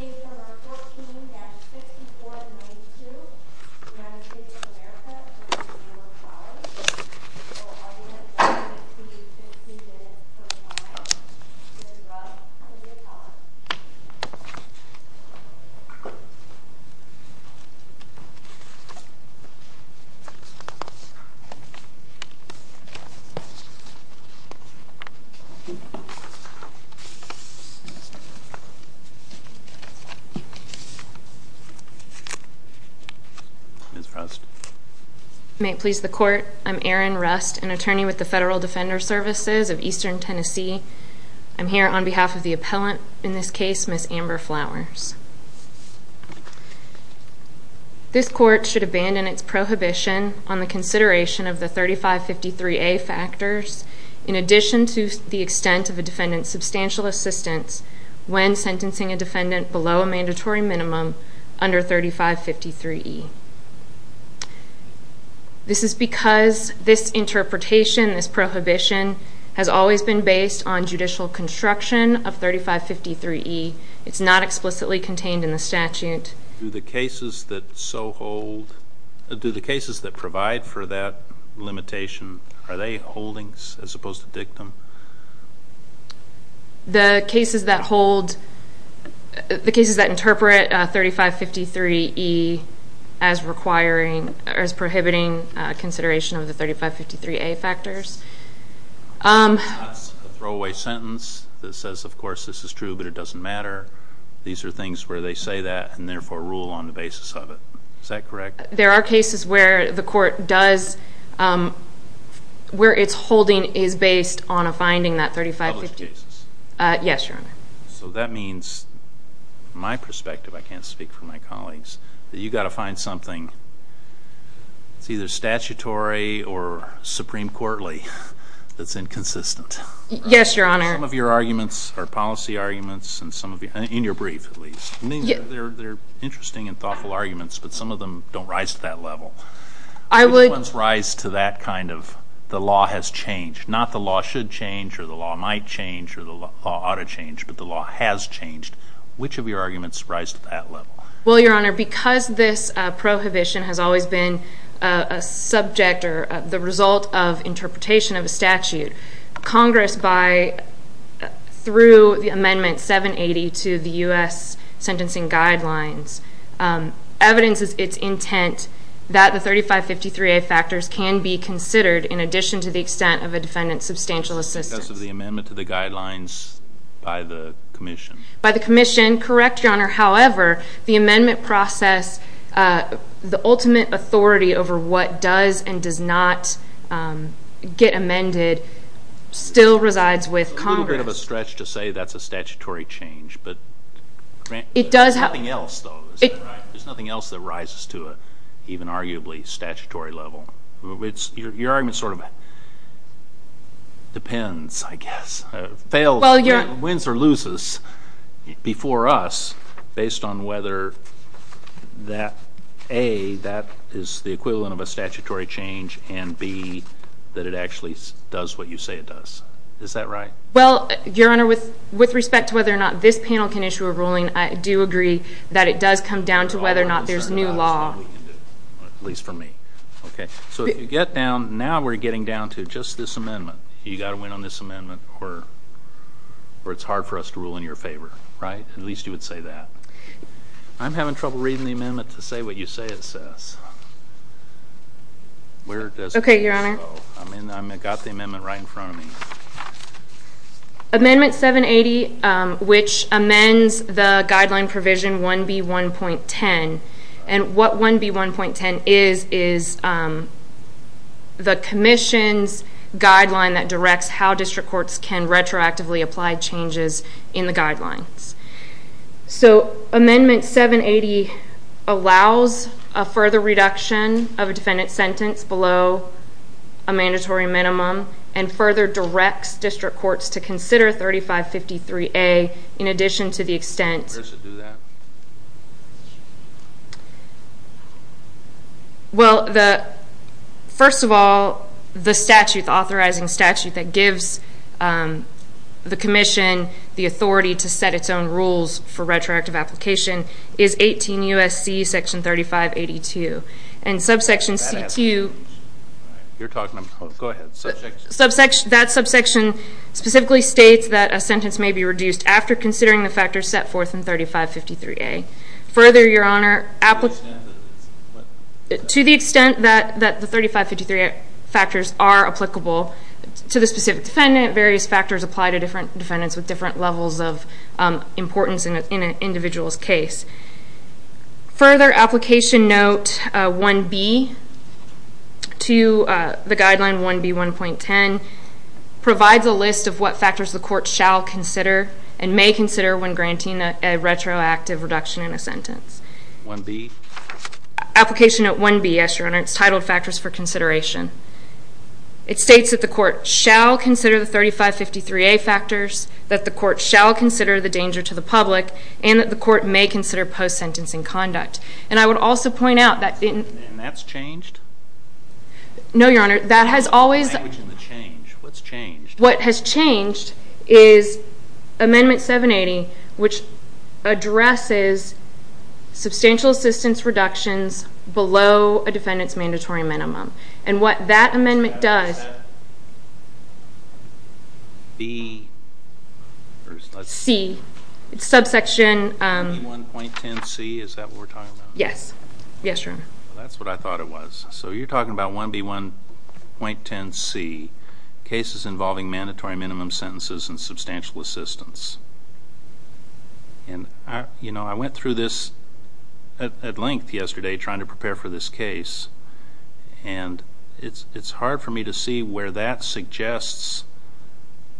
April 14-6492 United States of America v. Amber Flowers I will now ask you to do 15 minutes of silence to interrupt for your comments. Ms. Frost May it please the court, I'm Erin Rust, an attorney with the Federal Defender Services of Eastern Tennessee. I'm here on behalf of the appellant, in this case Ms. Amber Flowers. This court should abandon its prohibition on the consideration of the 3553A factors in addition to the extent of a defendant's substantial assistance when sentencing a defendant below a mandatory minimum under 3553E. This is because this interpretation, this prohibition, has always been based on judicial construction of 3553E. It's not explicitly contained in the statute. Do the cases that provide for that limitation, are they holdings as opposed to dictum? The cases that hold, the cases that interpret 3553E as requiring, as prohibiting consideration of the 3553A factors. That's a throwaway sentence that says of course this is true but it doesn't matter. These are things where they say that and therefore rule on the basis of it. Is that correct? There are cases where the court does, where it's holding is based on a finding that 3553... Published cases. Yes, your honor. So that means, from my perspective, I can't speak for my colleagues, that you've got to find something that's either statutory or supreme courtly that's inconsistent. Yes, your honor. They're interesting and thoughtful arguments, but some of them don't rise to that level. I would... Some of them rise to that kind of, the law has changed. Not the law should change or the law might change or the law ought to change, but the law has changed. Which of your arguments rise to that level? Well, your honor, because this prohibition has always been a subject or the result of interpretation of a statute, Congress, through the amendment 780 to the U.S. Sentencing Guidelines, evidences its intent that the 3553A factors can be considered in addition to the extent of a defendant's substantial assistance. Because of the amendment to the guidelines by the commission. By the commission, correct, your honor. However, the amendment process, the ultimate authority over what does and does not get amended, still resides with Congress. A little bit of a stretch to say that's a statutory change, but there's nothing else though, is that right? There's nothing else that rises to an even arguably statutory level. Your argument sort of depends, I guess, wins or loses before us, based on whether that A, that is the equivalent of a statutory change, and B, that it actually does what you say it does. Is that right? Well, your honor, with respect to whether or not this panel can issue a ruling, I do agree that it does come down to whether or not there's new law. At least for me. So if you get down, now we're getting down to just this amendment. You've got to win on this amendment or it's hard for us to rule in your favor, right? At least you would say that. I'm having trouble reading the amendment to say what you say it says. Okay, your honor. I've got the amendment right in front of me. Amendment 780, which amends the guideline provision 1B1.10, and what 1B1.10 is is the commission's guideline that directs how district courts can retroactively apply changes in the guidelines. So amendment 780 allows a further reduction of a defendant's sentence below a mandatory minimum and further directs district courts to consider 3553A in addition to the extent Where does it do that? Well, first of all, the statute, the authorizing statute that gives the commission the authority to set its own rules for retroactive application is 18 U.S.C. section 3582. And subsection C2, that subsection specifically states that a sentence may be reduced after considering the factors set forth in 3553A. Further, your honor, to the extent that the 3553A factors are applicable to the specific defendant, various factors apply to different defendants with different levels of importance in an individual's case. Further, application note 1B to the guideline 1B1.10 provides a list of what factors the court shall consider and may consider when granting a retroactive reduction in a sentence. 1B? Application note 1B, yes, your honor. It's titled Factors for Consideration. It states that the court shall consider the 3553A factors, that the court shall consider the danger to the public, and that the court may consider post-sentencing conduct. And I would also point out that... And that's changed? No, your honor. That has always... What's changed? What has changed is amendment 780, which addresses substantial assistance reductions below a defendant's mandatory minimum. And what that amendment does... B... C. It's subsection... 1.10C, is that what we're talking about? Yes. Yes, your honor. That's what I thought it was. So you're talking about 1B1.10C, cases involving mandatory minimum sentences and substantial assistance. And, you know, I went through this at length yesterday, trying to prepare for this case, and it's hard for me to see where that suggests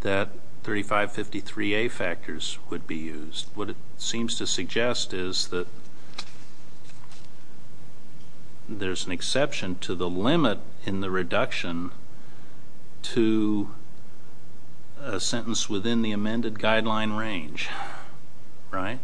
that 3553A factors would be used. What it seems to suggest is that... there's an exception to the limit in the reduction to a sentence within the amended guideline range. Right?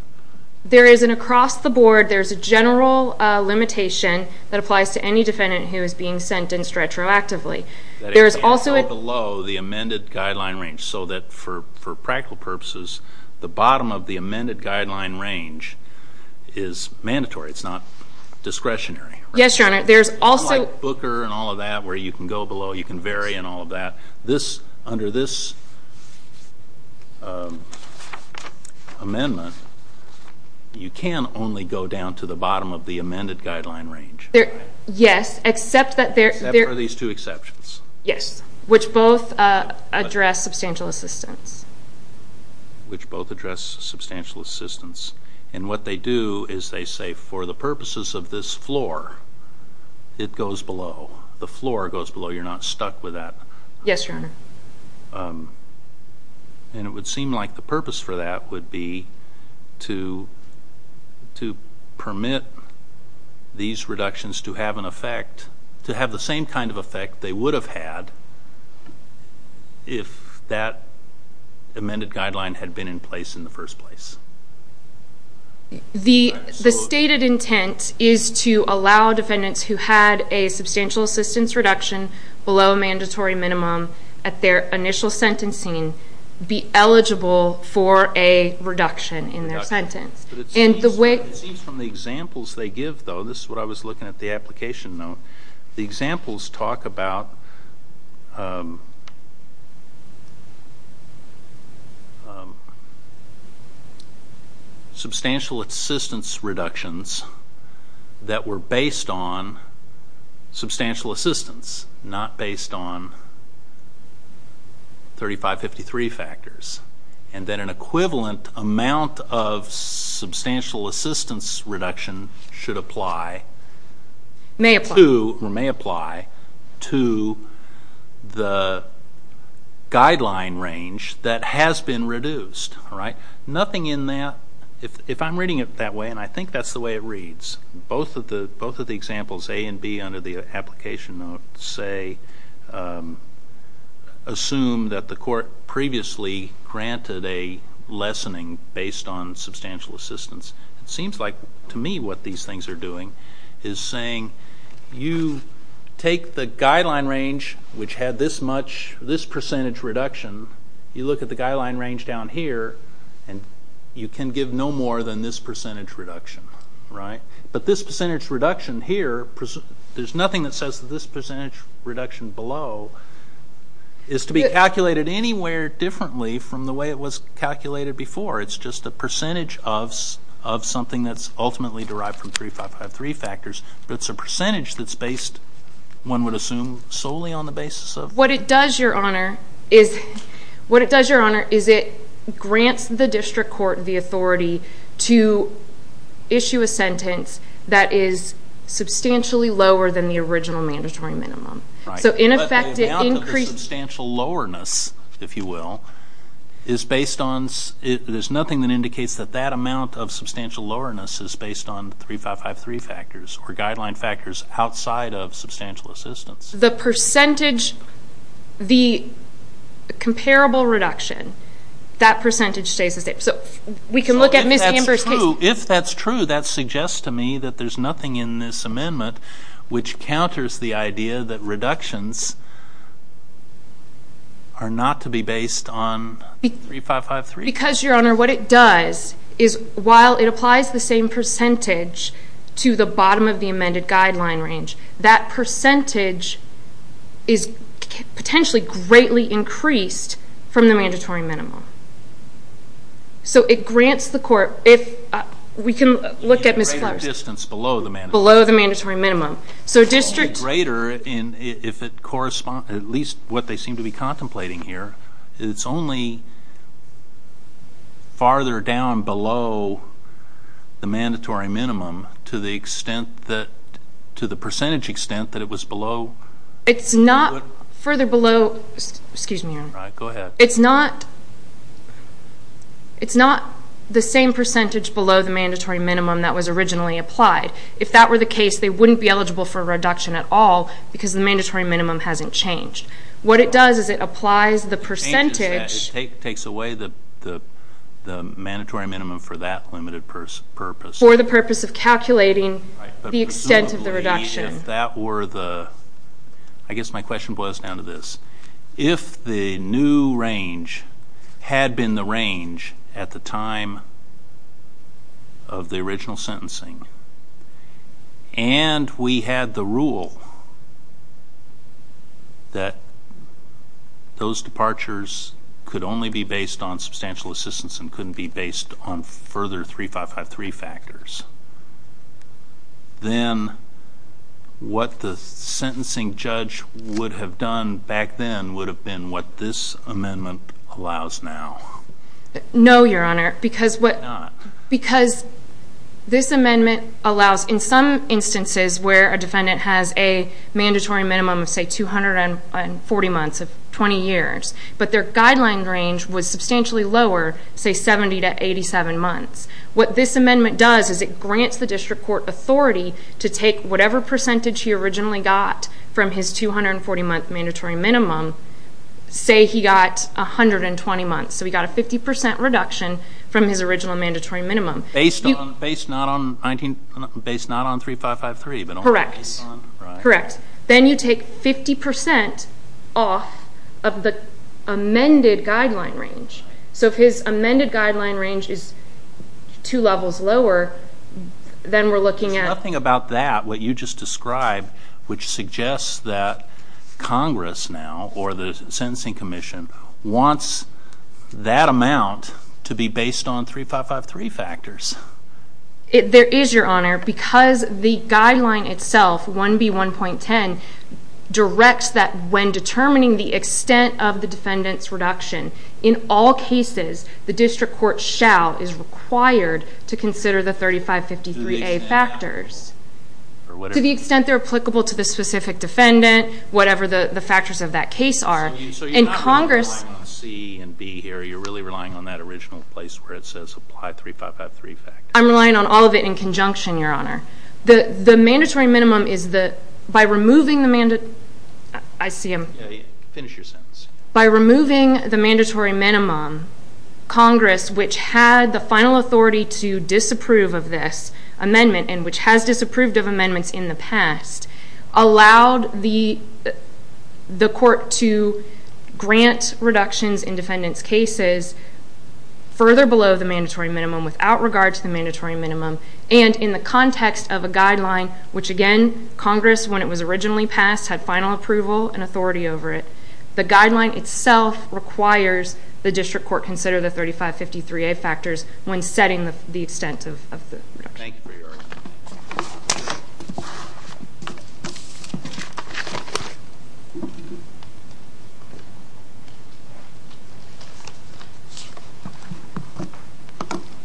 There is, and across the board, there's a general limitation that applies to any defendant who is being sentenced retroactively. There is also a... Below the amended guideline range, so that for practical purposes, the bottom of the amended guideline range is mandatory. It's not discretionary. Yes, your honor. There's also... Unlike Booker and all of that, where you can go below, you can vary and all of that, under this amendment, you can only go down to the bottom of the amended guideline range. Yes, except that there... Except for these two exceptions. Yes, which both address substantial assistance. And what they do is they say, for the purposes of this floor, it goes below. The floor goes below. You're not stuck with that. Yes, your honor. And it would seem like the purpose for that would be to permit these reductions to have an effect, to have the same kind of effect they would have had if that amended guideline had been in place in the first place. The stated intent is to allow defendants who had a substantial assistance reduction below a mandatory minimum at their initial sentencing be eligible for a reduction in their sentence. But it seems from the examples they give, though, this is what I was looking at the application note, the examples talk about substantial assistance reductions that were based on substantial assistance, not based on 3553 factors. And then an equivalent amount of substantial assistance reduction should apply to or may apply to the guideline range that has been reduced. Nothing in that, if I'm reading it that way, and I think that's the way it reads, both of the examples, A and B, under the application note say, assume that the court previously granted a lessening based on substantial assistance. It seems like, to me, what these things are doing is saying you take the guideline range, which had this percentage reduction, you look at the guideline range down here, and you can give no more than this percentage reduction. But this percentage reduction here, there's nothing that says that this percentage reduction below is to be calculated anywhere differently from the way it was calculated before. It's just a percentage of something that's ultimately derived from 3553 factors, but it's a percentage that's based, one would assume, solely on the basis of... What it does, Your Honor, is it grants the district court the authority to issue a sentence that is substantially lower than the original mandatory minimum. Right. But the amount of the substantial lowerness, if you will, is based on... There's nothing that indicates that that amount of substantial lowerness is based on 3553 factors or guideline factors outside of substantial assistance. The percentage, the comparable reduction, that percentage stays the same. So we can look at Ms. Amber's case... If that's true, that suggests to me that there's nothing in this amendment which counters the idea that reductions are not to be based on 3553. Because, Your Honor, what it does is while it applies the same percentage to the bottom of the amended guideline range, that percentage is potentially greatly increased from the mandatory minimum. So it grants the court... We can look at Ms. Flowers' case. A greater distance below the mandatory minimum. Below the mandatory minimum. So district... Greater if it corresponds to at least what they seem to be contemplating here. It's only farther down below the mandatory minimum to the percentage extent that it was below... It's not further below... Excuse me, Your Honor. All right, go ahead. It's not the same percentage below the mandatory minimum that was originally applied. If that were the case, they wouldn't be eligible for a reduction at all because the mandatory minimum hasn't changed. What it does is it applies the percentage... It takes away the mandatory minimum for that limited purpose. For the purpose of calculating the extent of the reduction. If that were the... If the new range had been the range at the time of the original sentencing and we had the rule that those departures could only be based on substantial assistance and couldn't be based on further 3553 factors, then what the sentencing judge would have done back then would have been what this amendment allows now. No, Your Honor. Why not? Because this amendment allows in some instances where a defendant has a mandatory minimum of say 240 months of 20 years, but their guideline range was substantially lower, say 70 to 87 months. What this amendment does is it grants the district court authority to take whatever percentage he originally got from his 240-month mandatory minimum, say he got 120 months, so he got a 50% reduction from his original mandatory minimum. Based not on 3553, but only based on... Correct. Correct. Then you take 50% off of the amended guideline range. So if his amended guideline range is two levels lower, then we're looking at... There's nothing about that, what you just described, which suggests that Congress now, or the Sentencing Commission, wants that amount to be based on 3553 factors. There is, Your Honor, because the guideline itself, 1B1.10, directs that when determining the extent of the defendant's reduction, in all cases the district court shall, is required, to consider the 3553A factors. To the extent they're applicable to the specific defendant, whatever the factors of that case are. So you're not relying on C and B here, you're really relying on that original place where it says apply 3553 factors. I'm relying on all of it in conjunction, Your Honor. The mandatory minimum is that by removing the... I see him. Finish your sentence. By removing the mandatory minimum, Congress, which had the final authority to disapprove of this amendment and which has disapproved of amendments in the past, allowed the court to grant reductions in defendants' cases further below the mandatory minimum without regard to the mandatory minimum and in the context of a guideline, which again, Congress, when it was originally passed, had final approval and authority over it. The guideline itself requires the district court consider the 3553A factors when setting the extent of the reduction. Thank you for your argument.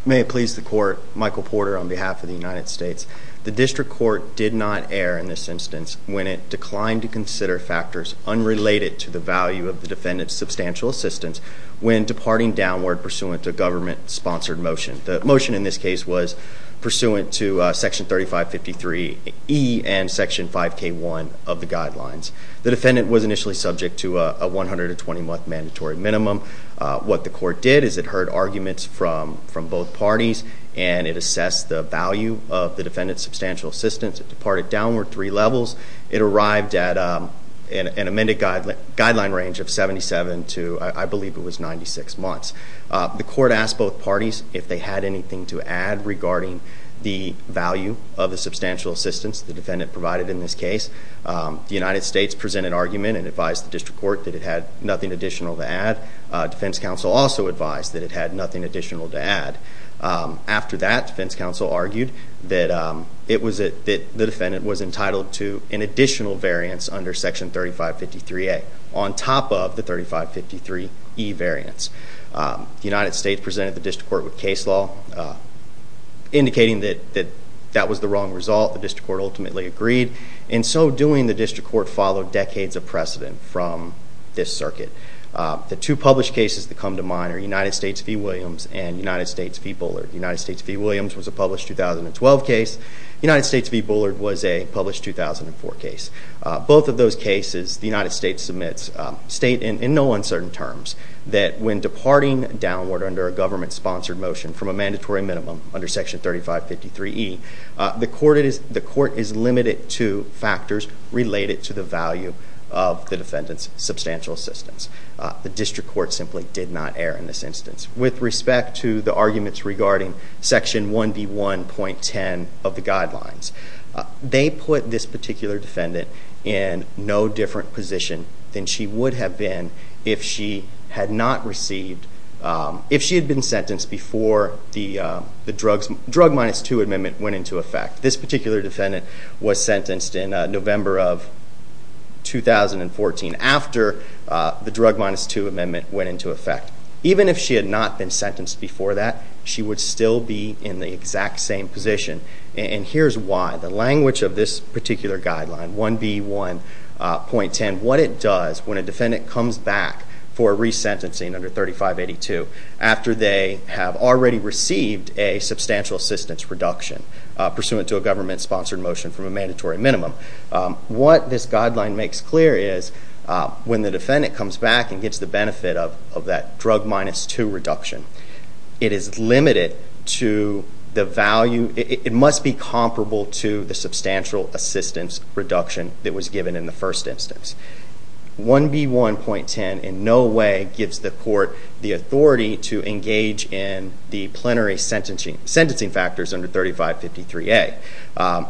May it please the court, Michael Porter on behalf of the United States. The district court did not err in this instance when it declined to consider factors unrelated to the value of the defendant's substantial assistance when departing downward pursuant to a government-sponsored motion. The motion in this case was pursuant to section 3553E and section 5K1 of the guidelines. The defendant was initially subject to a 120-month mandatory minimum. What the court did is it heard arguments from both parties and it assessed the value of the defendant's substantial assistance. It departed downward three levels. It arrived at an amended guideline range of 77 to, I believe it was 96 months. The court asked both parties if they had anything to add regarding the value of the substantial assistance the defendant provided in this case. The United States presented an argument and advised the district court that it had nothing additional to add. Defense counsel also advised that it had nothing additional to add. After that, defense counsel argued that the defendant was entitled to an additional variance under section 3553A on top of the 3553E variance. The United States presented the district court with case law indicating that that was the wrong result. The district court ultimately agreed. In so doing, the district court followed decades of precedent from this circuit. The two published cases that come to mind are United States v. Williams and United States v. Bullard. United States v. Williams was a published 2012 case. United States v. Bullard was a published 2004 case. Both of those cases, the United States submits state in no uncertain terms that when departing downward under a government-sponsored motion from a mandatory minimum under section 3553E, the court is limited to factors related to the value of the defendant's substantial assistance. The district court simply did not err in this instance. With respect to the arguments regarding section 1B1.10 of the guidelines, they put this particular defendant in no different position than she would have been if she had not received... if she had been sentenced before the drug minus two amendment went into effect. This particular defendant was sentenced in November of 2014 after the drug minus two amendment went into effect. Even if she had not been sentenced before that, she would still be in the exact same position. And here's why. The language of this particular guideline, 1B1.10, what it does when a defendant comes back for resentencing under 3582 after they have already received a substantial assistance reduction pursuant to a government-sponsored motion from a mandatory minimum. What this guideline makes clear is when the defendant comes back and gets the benefit of that drug minus two reduction, it is limited to the value... the substantial assistance reduction that was given in the first instance. 1B1.10 in no way gives the court the authority to engage in the plenary sentencing factors under 3553A.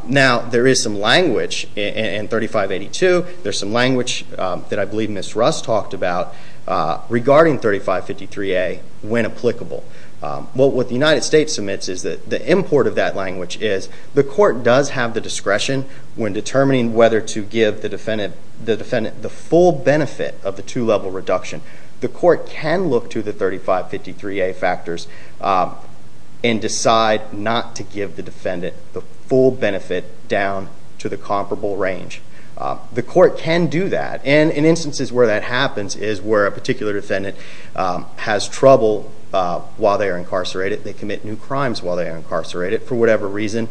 Now, there is some language in 3582, there's some language that I believe Ms. Russ talked about regarding 3553A when applicable. What the United States submits is that the import of that language is the court does have the discretion when determining whether to give the defendant the full benefit of the two-level reduction. The court can look to the 3553A factors and decide not to give the defendant the full benefit down to the comparable range. The court can do that. And in instances where that happens is where a particular defendant has trouble while they are incarcerated, they commit new crimes while they are incarcerated for whatever reason,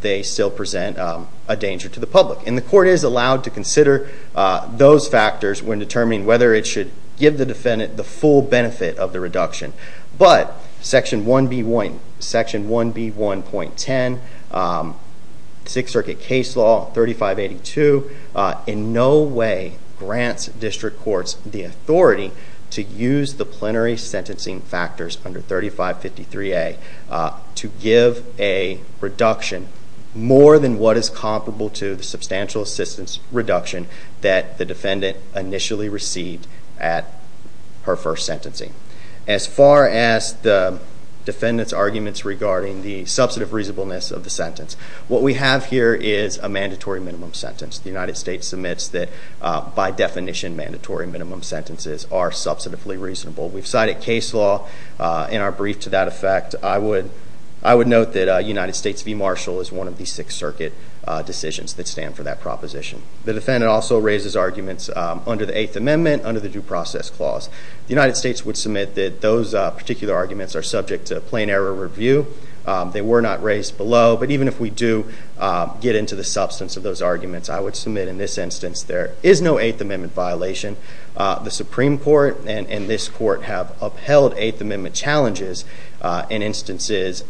they still present a danger to the public. And the court is allowed to consider those factors when determining whether it should give the defendant the full benefit of the reduction. But Section 1B1.10, Sixth Circuit Case Law 3582, in no way grants district courts the authority to use the plenary sentencing factors under 3553A to give a reduction more than what is comparable to the substantial assistance reduction that the defendant initially received at her first sentencing. As far as the defendant's arguments regarding the substantive reasonableness of the sentence, what we have here is a mandatory minimum sentence. The United States submits that, by definition, mandatory minimum sentences are substantively reasonable. We've cited case law in our brief to that effect. I would note that United States v. Marshall is one of the Sixth Circuit decisions that stand for that proposition. The defendant also raises arguments under the Eighth Amendment, under the Due Process Clause. The United States would submit that those particular arguments are subject to plain error review. They were not raised below, but even if we do get into the substance of those arguments, I would submit in this instance there is no Eighth Amendment violation. The Supreme Court and this Court have upheld Eighth Amendment challenges in instances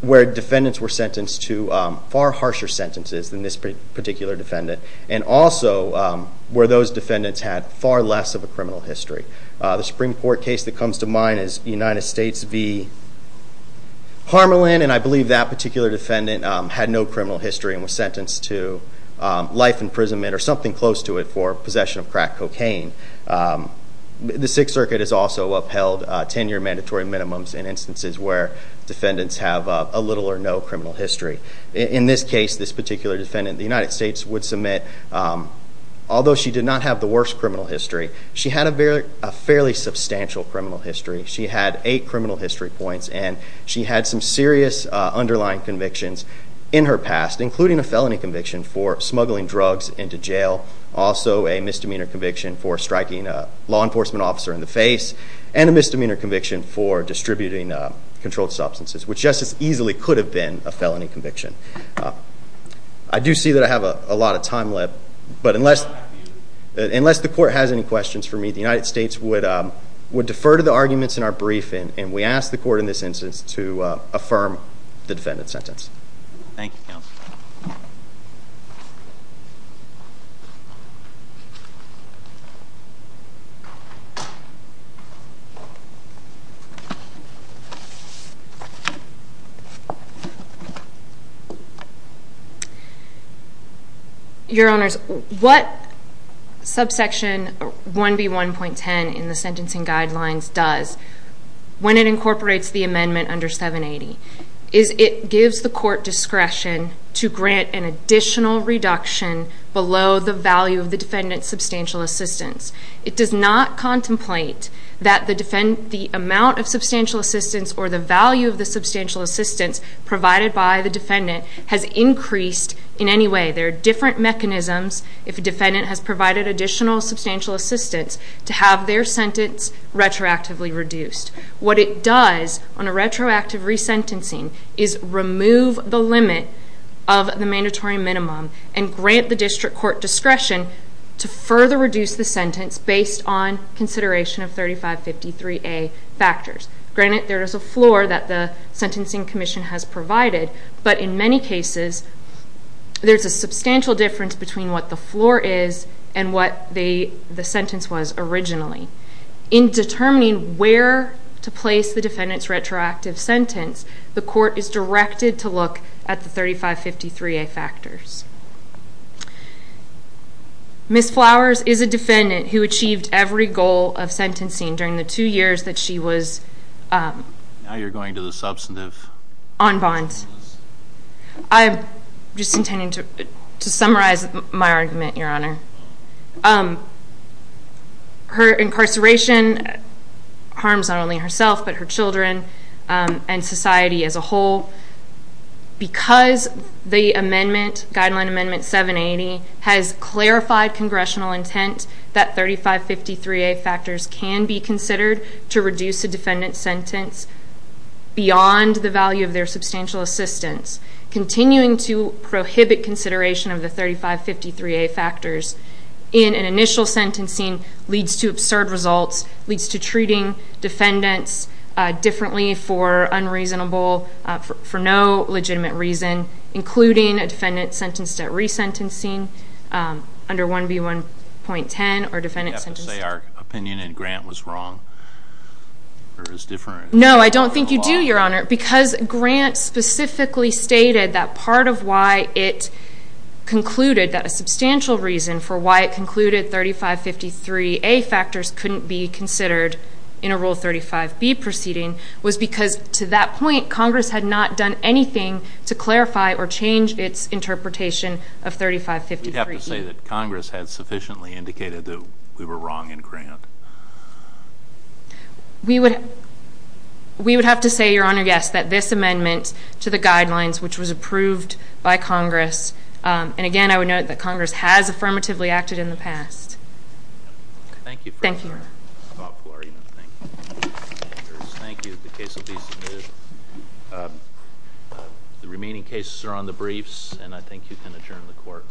where defendants were sentenced to far harsher sentences than this particular defendant, and also where those defendants had far less of a criminal history. The Supreme Court case that comes to mind is United States v. Harmelin, and I believe that particular defendant had no criminal history and was sentenced to life imprisonment or something close to it for possession of crack cocaine. The Sixth Circuit has also upheld 10-year mandatory minimums in instances where defendants have a little or no criminal history. In this case, this particular defendant, the United States would submit although she did not have the worst criminal history, she had a fairly substantial criminal history. She had eight criminal history points, and she had some serious underlying convictions in her past, including a felony conviction for smuggling drugs into jail, also a misdemeanor conviction for striking a law enforcement officer in the face, and a misdemeanor conviction for distributing controlled substances, which just as easily could have been a felony conviction. I do see that I have a lot of time left, but unless the Court has any questions for me, the United States would defer to the arguments in our briefing, and we ask the Court in this instance to affirm the defendant's sentence. Thank you, Counsel. Your Honors, what subsection 1B1.10 in the Sentencing Guidelines does when it incorporates the amendment under 780 is it gives the Court discretion to grant an additional reduction below the value of the defendant's substantial assistance. It does not contemplate that the amount of substantial assistance or the value of the substantial assistance provided by the defendant has increased in any way. There are different mechanisms if a defendant has provided additional substantial assistance to have their sentence retroactively reduced. What it does on a retroactive resentencing is remove the limit of the mandatory minimum and grant the District Court discretion to further reduce the sentence based on consideration of 3553A factors. Granted, there is a floor that the Sentencing Commission has provided, but in many cases, there's a substantial difference between what the floor is and what the sentence was originally. In determining where to place the defendant's retroactive sentence, the Court is directed to look at the 3553A factors. Ms. Flowers is a defendant who achieved every goal of sentencing during the two years that she was I'm just intending to summarize my argument, Your Honor. Her incarceration harms not only herself, but her children and society as a whole. Because the amendment, Guideline Amendment 780, has clarified Congressional intent that 3553A factors can be considered to reduce a defendant's sentence beyond the value of their substantial assistance, continuing to prohibit consideration of the 3553A factors in an initial sentencing leads to absurd results, leads to treating defendants differently for unreasonable, for no legitimate reason, including a defendant sentenced at resentencing under 1B1.10, or defendant sentenced... You have to say our opinion in Grant was wrong, or is different. No, I don't think you do, Your Honor, because Grant specifically stated that part of why it concluded that a substantial reason for why it concluded 3553A factors couldn't be considered in a Rule 35B proceeding was because, to that point, Congress had not done anything to clarify or change its interpretation of 3553B. We have to say that Congress had sufficiently indicated that we were wrong in Grant. We would... We would have to say, Your Honor, yes, that this amendment to the guidelines, which was approved by Congress, and, again, I would note that Congress has affirmatively acted in the past. Thank you for your thoughtful argument. Thank you. Thank you. The case will be submitted. The remaining cases are on the briefs, and I think you can adjourn the Court.